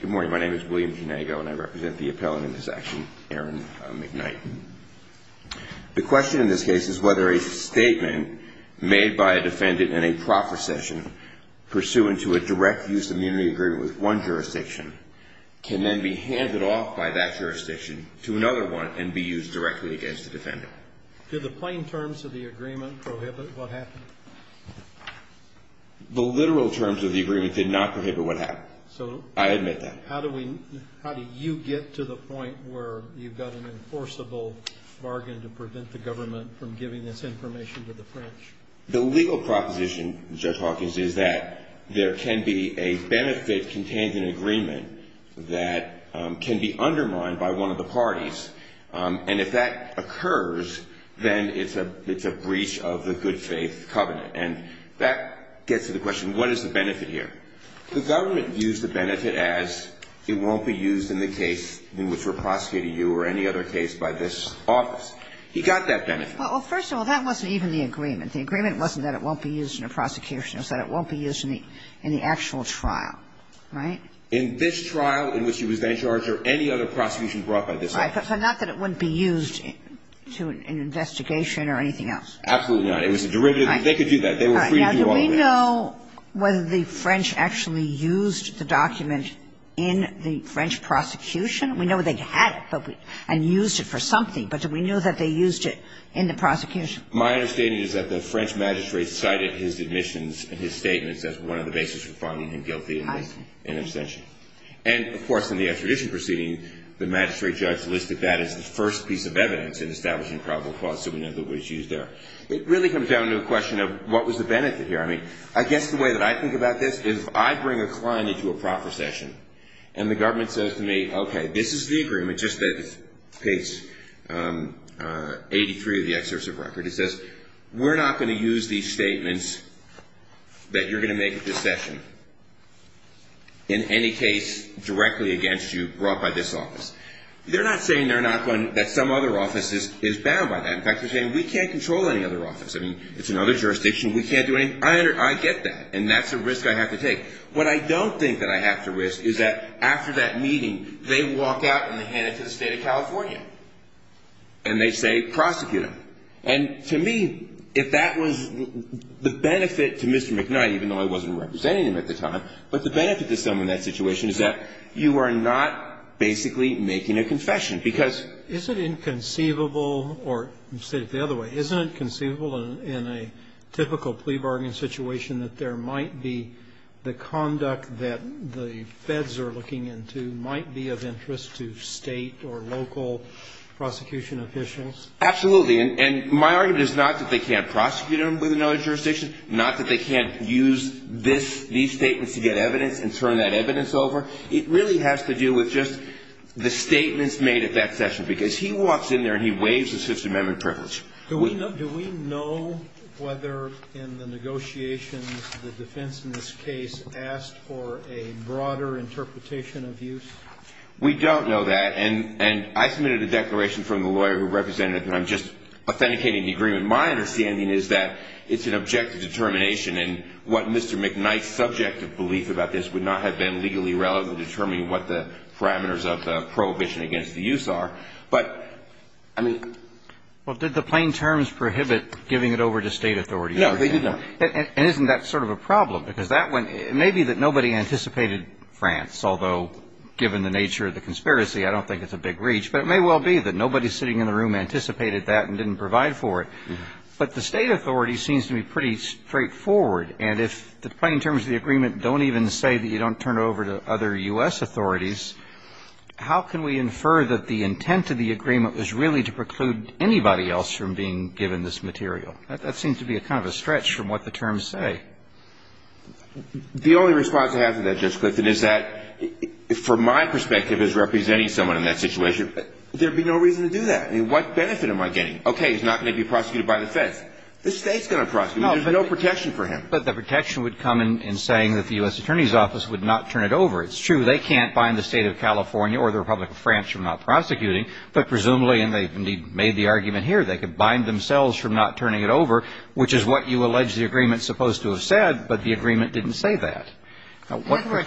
Good morning, my name is William Genago and I represent the appellant in this action, Aaron McKnight. The question in this case is whether a statement made by a defendant in a proper session pursuant to a direct use of immunity agreement with one jurisdiction can then be handed off by that jurisdiction to another one and be used directly against the defendant. Did the plain terms of the agreement prohibit what happened? The literal terms of the agreement did not prohibit what happened. I admit that. How do you get to the point where you've got an enforceable bargain to prevent the government from giving this information to the French? The legal proposition, Judge Hawkins, is that there can be a benefit contained in an agreement that can be undermined by one of the parties. And if that occurs, then it's a breach of the good faith covenant. And that gets to the question, what is the benefit here? The government used the benefit as it won't be used in the case in which we're prosecuting you or any other case by this office. He got that benefit. Well, first of all, that wasn't even the agreement. The agreement wasn't that it won't be used in a prosecution. It was that it won't be used in the actual trial, right? In this trial in which he was then charged or any other prosecution brought by this office. So not that it wouldn't be used to an investigation or anything else. Absolutely not. It was a derivative. They could do that. They were free to do all of that. Now, do we know whether the French actually used the document in the French prosecution? We know they had it and used it for something. But do we know that they used it in the prosecution? My understanding is that the French magistrate cited his admissions and his statements as one of the basis for finding him guilty in abstention. And, of course, in the extradition proceeding, the magistrate judge listed that as the first piece of evidence in establishing probable cause. So we know that it was used there. It really comes down to a question of what was the benefit here. I mean, I guess the way that I think about this is if I bring a client into a proper session and the government says to me, okay, this is the agreement, just page 83 of the excerpt of record. It says, we're not going to use these statements that you're going to make at this session in any case directly against you brought by this office. They're not saying they're not going to, that some other office is bound by that. In fact, they're saying we can't control any other office. I mean, it's another jurisdiction. We can't do any, I get that. And that's a risk I have to take. What I don't think that I have to risk is that after that meeting, they walk out and they hand it to the State of California. And they say, prosecute him. And to me, if that was the benefit to Mr. McKnight, even though I wasn't representing him at the time, but the benefit to someone in that situation is that you are not basically making a confession because. Is it inconceivable, or say it the other way, isn't it conceivable in a typical plea bargain situation that there might be the conduct that the feds are looking into might be of interest to State or local prosecution officials? Absolutely. And my argument is not that they can't prosecute him with another jurisdiction, not that they can't use these statements to get evidence and turn that evidence over. It really has to do with just the statements made at that session. Because he walks in there and he waives his Fifth Amendment privilege. Do we know whether in the negotiations the defense in this case asked for a broader interpretation of use? We don't know that. And I submitted a declaration from the lawyer who represented him. I'm just authenticating the agreement. My understanding is that it's an objective determination, and what Mr. McKnight's subjective belief about this would not have been legally relevant determining what the parameters of the prohibition against the use are. But, I mean. Well, did the plain terms prohibit giving it over to State authorities? No, they did not. And isn't that sort of a problem? Because that went – maybe that nobody anticipated France, although given the nature of the conspiracy, I don't think it's a big reach. But it may well be that nobody sitting in the room anticipated that and didn't provide for it. But the State authority seems to be pretty straightforward. And if the plain terms of the agreement don't even say that you don't turn it over to other U.S. authorities, how can we infer that the intent of the agreement was really to preclude anybody else from being given this material? That seems to be kind of a stretch from what the terms say. The only response I have to that, Judge Clifton, is that, from my perspective as representing someone in that situation, there would be no reason to do that. I mean, what benefit am I getting? Okay, he's not going to be prosecuted by the Feds. The State's going to prosecute him. There's no protection for him. But the protection would come in saying that the U.S. Attorney's Office would not turn it over. It's true. They can't bind the State of California or the Republic of France from not prosecuting. But presumably, and they've indeed made the argument here, they could bind themselves from not turning it over, which is what you allege the agreement's supposed to have said, but the agreement didn't say that. And I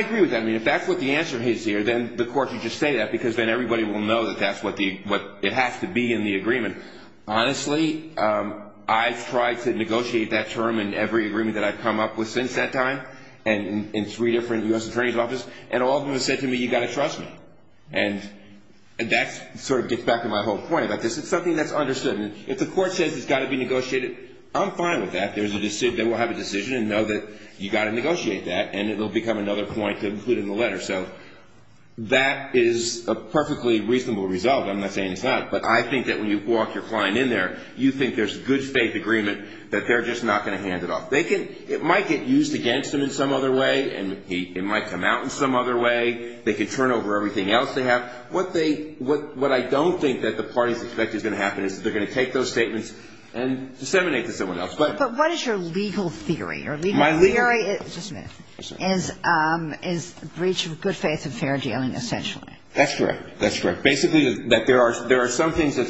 agree with that. I mean, if that's what the answer is here, then the court should just say that, because then everybody will know that that's what it has to be in the agreement. Honestly, I've tried to negotiate that term in every agreement that I've come up with since that time, and in three different U.S. Attorney's Offices, and all of them have said to me, you've got to trust me. And that sort of gets back to my whole point about this. It's something that's understood. If the court says it's got to be negotiated, I'm fine with that. They will have a decision and know that you've got to negotiate that, and it will become another point to include in the letter. So that is a perfectly reasonable result. I'm not saying it's not, but I think that when you walk your client in there, you think there's good faith agreement that they're just not going to hand it off. It might get used against them in some other way, and it might come out in some other way. They could turn over everything else they have. What I don't think that the parties expect is going to happen is they're going to take those statements and disseminate to someone else. But what is your legal theory? My legal theory is breach of good faith and fair dealing, essentially. That's correct. That's correct. Basically that there are some things that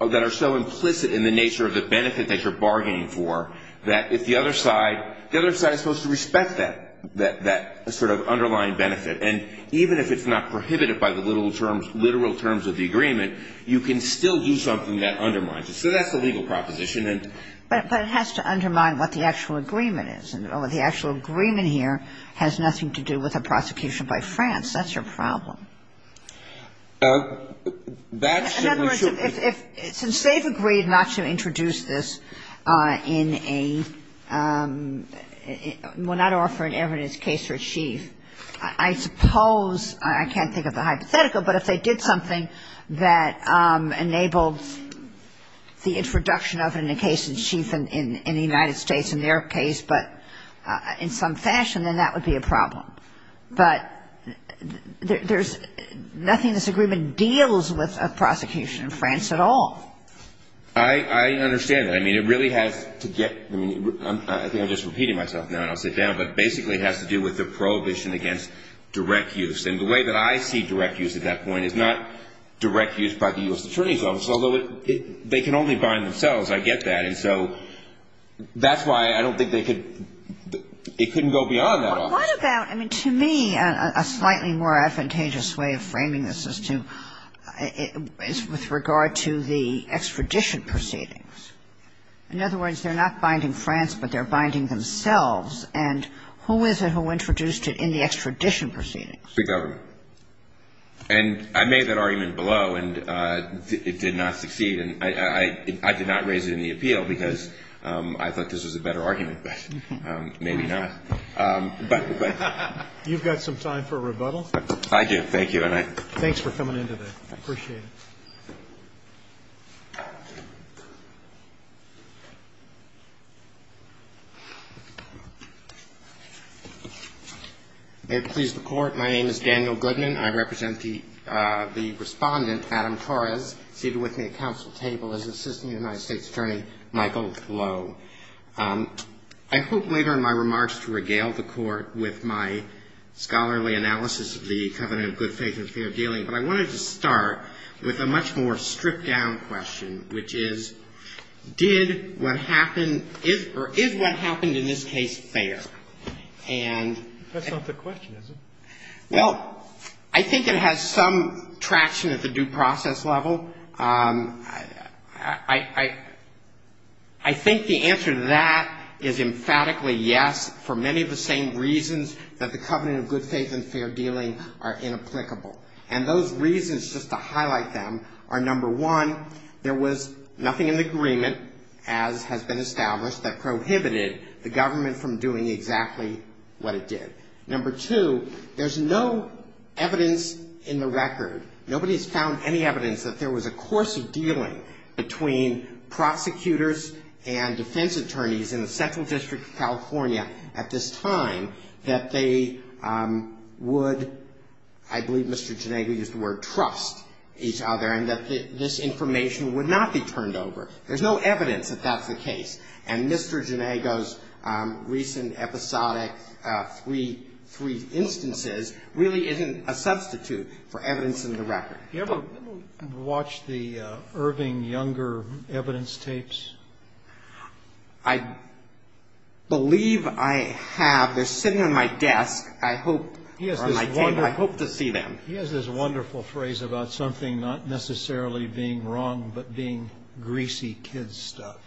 are so implicit in the nature of the benefit that you're bargaining for that if the other side – the other side is supposed to respect that sort of underlying benefit. And even if it's not prohibited by the literal terms of the agreement, you can still do something that undermines it. So that's the legal proposition. But it has to undermine what the actual agreement is. The actual agreement here has nothing to do with a prosecution by France. That's your problem. That's the issue. In other words, since they've agreed not to introduce this in a – I suppose – I can't think of the hypothetical, but if they did something that enabled the introduction of it in a case in the United States, in their case, but in some fashion, then that would be a problem. But there's nothing this agreement deals with a prosecution in France at all. I understand that. I mean, it really has to get – I think I'm just repeating myself now and I'll sit down. But basically it has to do with the prohibition against direct use. And the way that I see direct use at that point is not direct use by the U.S. Attorney's Office, although they can only bind themselves. I get that. And so that's why I don't think they could – it couldn't go beyond that office. What about – I mean, to me, a slightly more advantageous way of framing this is to – is with regard to the extradition proceedings. In other words, they're not binding France, but they're binding themselves. And who is it who introduced it in the extradition proceedings? The government. And I made that argument below, and it did not succeed. And I did not raise it in the appeal because I thought this was a better argument, but maybe not. But – but – You've got some time for rebuttal. I do. Thank you. Thanks for coming in today. I appreciate it. May it please the Court, my name is Daniel Goodman. I represent the – the Respondent, Adam Torres, seated with me at council table as Assistant United States Attorney, Michael Lowe. I hope later in my remarks to regale the Court with my scholarly analysis of the Covenant of Good Faith and Fair Dealing, but I wanted to start with a moment of much more stripped down question, which is, did what happened – or is what happened in this case fair? And – That's not the question, is it? Well, I think it has some traction at the due process level. I – I think the answer to that is emphatically yes for many of the same reasons that the Covenant of Good Faith and Fair Dealing are inapplicable. And those reasons, just to highlight them, are number one, there was nothing in the agreement, as has been established, that prohibited the government from doing exactly what it did. Number two, there's no evidence in the record, nobody's found any evidence that there was a course of dealing between prosecutors and defense attorneys in the Central District of California at this time that they would – I believe Mr. Ginego used the word – trust each other and that this information would not be turned over. There's no evidence that that's the case. And Mr. Ginego's recent episodic three instances really isn't a substitute for evidence in the record. Have you ever watched the Irving Younger evidence tapes? I believe I have. They're sitting on my desk. I hope – or on my table. I hope to see them. He has this wonderful phrase about something not necessarily being wrong, but being greasy kids' stuff.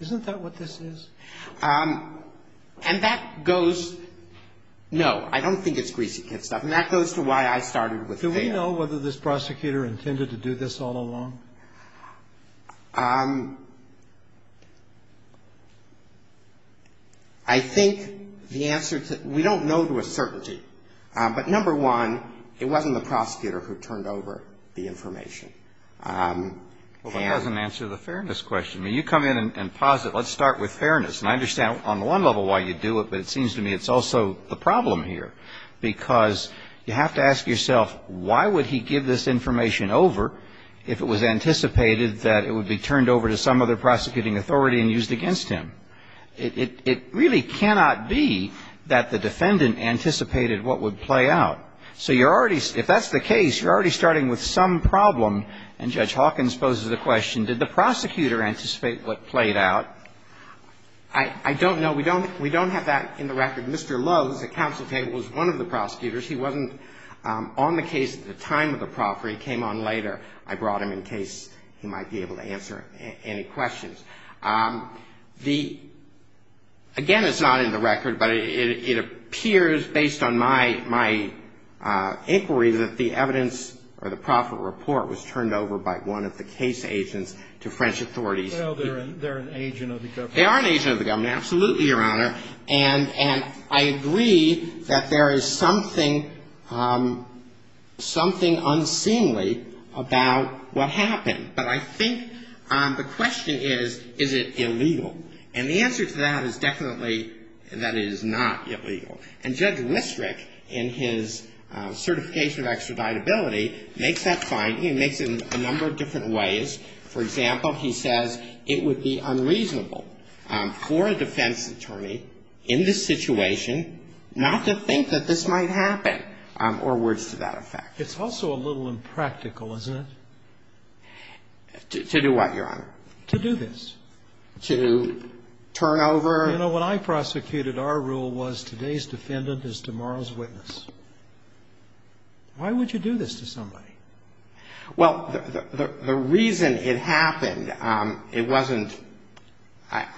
Isn't that what this is? And that goes – no, I don't think it's greasy kids' stuff. And that goes to why I started with fair. Do we know whether this prosecutor intended to do this all along? I think the answer to – we don't know to a certainty. But number one, it wasn't the prosecutor who turned over the information. Well, that doesn't answer the fairness question. I mean, you come in and posit, let's start with fairness. And I understand on one level why you'd do it, but it seems to me it's also the problem here. Because you have to ask yourself, why would he give this information over if it was intended that it would be turned over to some other prosecuting authority and used against him? It really cannot be that the defendant anticipated what would play out. So you're already – if that's the case, you're already starting with some problem. And Judge Hawkins poses the question, did the prosecutor anticipate what played out? I don't know. We don't have that in the record. Mr. Lowe, who's at counsel table, was one of the prosecutors. He wasn't on the case at the time of the proffering. He came on later. I brought him in case he might be able to answer any questions. The – again, it's not in the record, but it appears, based on my inquiry, that the evidence or the proffer report was turned over by one of the case agents to French authorities. Well, they're an agent of the government. They are an agent of the government, absolutely, Your Honor. And I agree that there is something – something unseemly about what happened. But I think the question is, is it illegal? And the answer to that is definitely that it is not illegal. And Judge Listerick, in his certification of extraditability, makes that finding and makes it in a number of different ways. For example, he says it would be unreasonable for a defense attorney in this situation not to think that this might happen, or words to that effect. It's also a little impractical, isn't it? To do what, Your Honor? To do this. To turn over? You know, when I prosecuted, our rule was today's defendant is tomorrow's witness. Why would you do this to somebody? Well, the reason it happened, it wasn't – I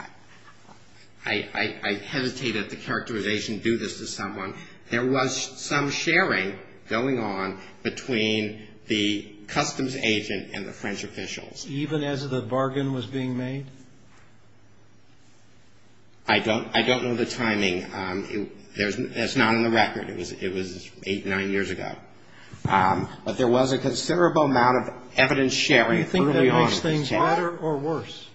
hesitate at the characterization to do this to someone. There was some sharing going on between the customs agent and the French officials. Even as the bargain was being made? I don't know the timing. That's not on the record. It was eight, nine years ago. But there was a considerable amount of evidence sharing early on. Do you think that makes things better or worse?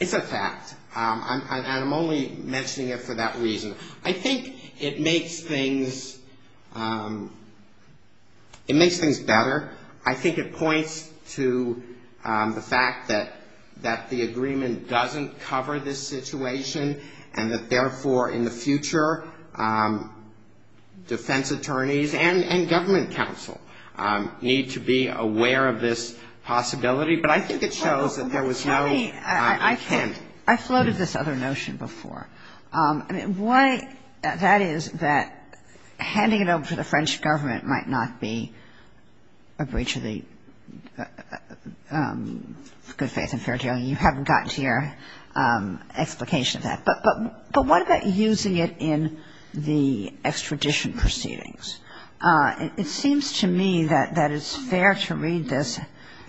It's a fact. And I'm only mentioning it for that reason. I think it makes things better. I think it points to the fact that the agreement doesn't cover this situation and that, therefore, in the future, defense attorneys and government counsel need to be aware of this possibility. But I think it shows that there was no intent. Let me – I floated this other notion before. Why that is that handing it over to the French government might not be a breach of the good faith and fair deal. You haven't gotten to your explication of that. But what about using it in the extradition proceedings? It seems to me that it's fair to read this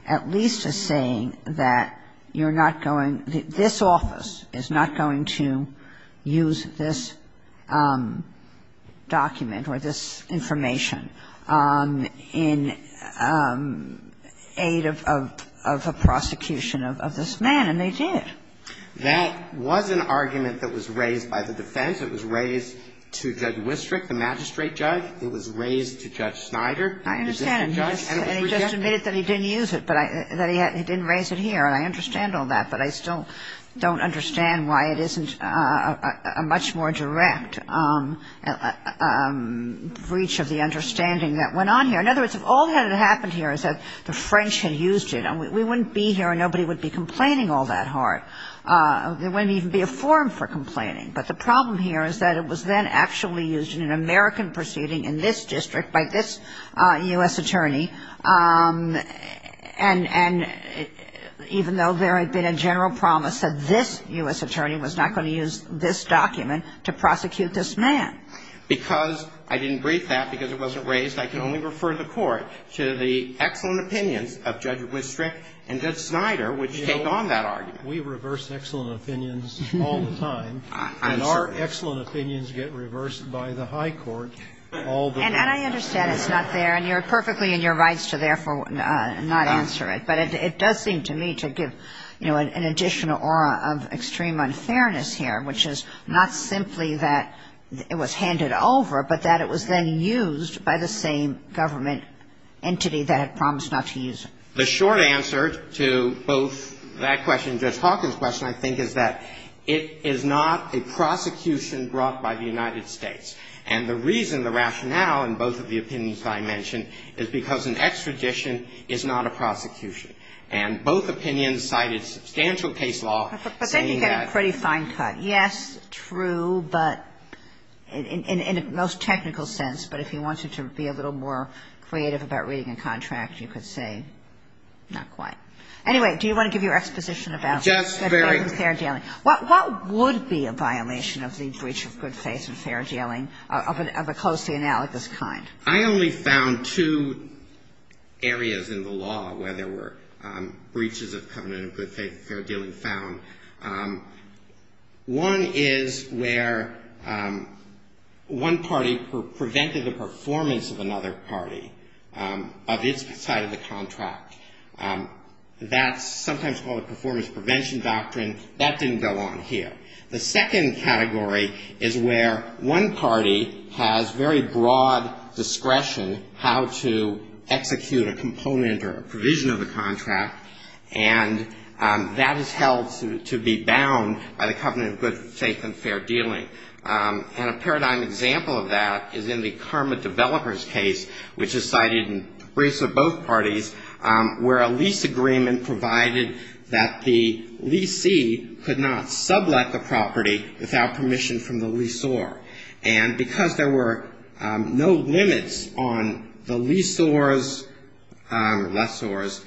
at least as saying that you're not going – That was an argument that was raised by the defense. It was raised to Judge Wisterik, the magistrate judge. It was raised to Judge Snider, the district judge. And it was rejected. And he just admitted that he didn't use it, that he didn't raise it here. And I understand all that. But I still don't understand why it isn't a much more direct breach of the understanding that went on here. In other words, if all that had happened here is that the French had used it and we wouldn't be here and nobody would be complaining all that hard, there wouldn't even be a forum for complaining. But the problem here is that it was then actually used in an American proceeding in this district by this U.S. attorney. And even though there had been a general promise that this U.S. attorney was not going to use this document to prosecute this man. Because I didn't brief that, because it wasn't raised, I can only refer the Court to the excellent opinions of Judge Wisterik and Judge Snider, which take on that argument. We reverse excellent opinions all the time. And our excellent opinions get reversed by the high court all the time. And I understand it's not there. And you're perfectly in your rights to therefore not answer it. But it does seem to me to give, you know, an additional aura of extreme unfairness here, which is not simply that it was handed over, but that it was then used by the same government entity that had promised not to use it. The short answer to both that question and Judge Hawkins' question, I think, is that it is not a prosecution brought by the United States. And the reason, the rationale in both of the opinions that I mentioned, is because an extradition is not a prosecution. And both opinions cited substantial case law saying that. But they can get a pretty fine cut. Yes, true, but in a most technical sense. But if you wanted to be a little more creative about reading a contract, you could say not quite. Anyway, do you want to give your exposition about fair dealing? What would be a violation of the breach of good faith and fair dealing of a closely analogous kind? I only found two areas in the law where there were breaches of covenant of good faith and fair dealing found. One is where one party prevented the performance of another party of its side of the contract. That's sometimes called a performance prevention doctrine. That didn't go on here. The second category is where one party has very broad discretion how to execute a contract. And that is held to be bound by the covenant of good faith and fair dealing. And a paradigm example of that is in the Karma Developers case, which is cited in briefs of both parties, where a lease agreement provided that the leasee could not sublet the property without permission from the leasor. And because there were no limits on the leasor's or lessor's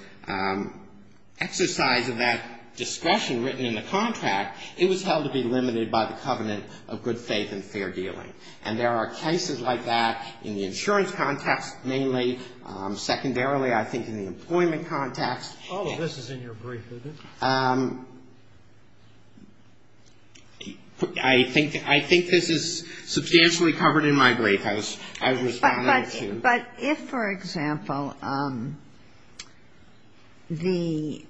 exercise of that discretion written in the contract, it was held to be limited by the covenant of good faith and fair dealing. And there are cases like that in the insurance context mainly. Secondarily, I think in the employment context. All of this is in your brief, isn't it? I think this is substantially covered in my brief. I was responding to you. But if, for example, the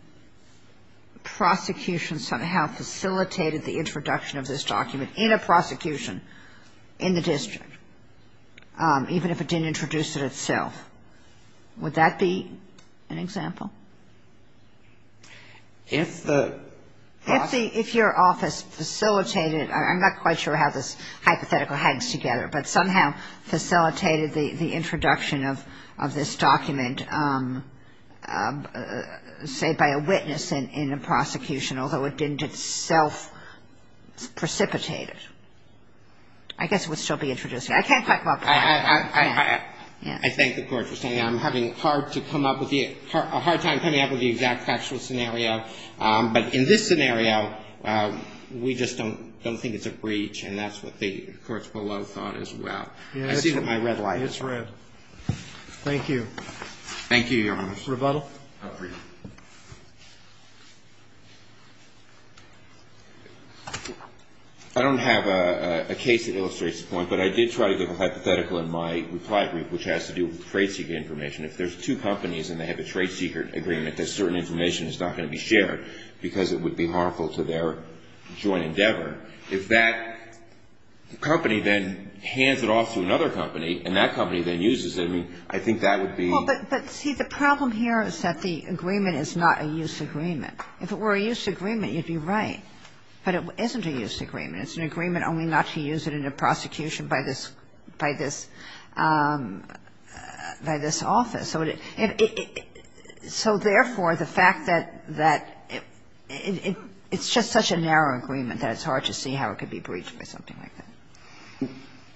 prosecution somehow facilitated the introduction of this document in a prosecution in the district, even if it didn't introduce it itself, would that be an example? If the prosecution... If your office facilitated, I'm not quite sure how this hypothetical hangs together, but somehow facilitated the introduction of this document, say, by a witness in a prosecution, although it didn't itself precipitate it, I guess it would still be introduced. I can't quite come up with that. I thank the Court for saying that. I'm having a hard time coming up with the exact factual scenario. But in this scenario, we just don't think it's a breach. And that's what the courts below thought as well. I see that my red light is on. It's red. Thank you. Thank you, Your Honor. Mr. Rebuttal. I don't have a case that illustrates the point, but I did try to give a hypothetical in my reply brief which has to do with trade secret information. If there's two companies and they have a trade secret agreement that certain information is not going to be shared because it would be harmful to their joint endeavor, if that company then hands it off to another company and that company then uses it, I mean, I think that would be... Well, but see, the problem here is that the agreement is not a use agreement. If it were a use agreement, you'd be right. But it isn't a use agreement. It's an agreement only not to use it in a prosecution by this office. So therefore, the fact that it's just such a narrow agreement that it's hard to see how it could be breached by something like that.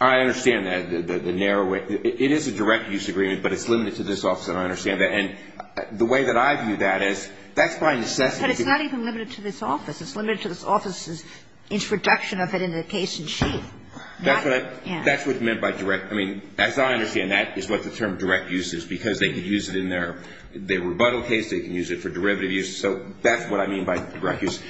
I understand that, the narrow way. It is a direct use agreement, but it's limited to this office, and I understand that. And the way that I view that is that's by necessity... But it's not even limited to this office. It's limited to this office's introduction of it in the case in sheet. That's what I... Yeah. That's what's meant by direct. I mean, that's how I understand that is what the term direct use is, because they could use it in their rebuttal case. They can use it for derivative use. So that's what I mean by direct use.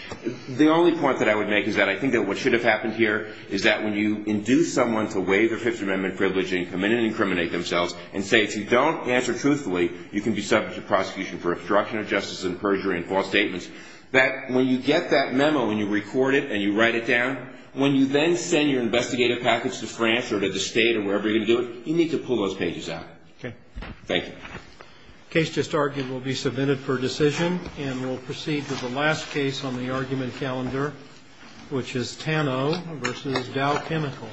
The only point that I would make is that I think that what should have happened here is that when you induce someone to waive their Fifth Amendment privilege and come in and incriminate themselves and say, if you don't answer truthfully, you can be subject to prosecution for obstruction of justice and perjury and false statements, that when you get that memo and you record it and you write it down, when you then send your investigative package to France or to the state or wherever you're going to do it, you need to pull those pages out. Okay. Thank you. The case just argued will be submitted for decision, and we'll proceed to the last case on the argument calendar, which is Tano v. Dow Chemical.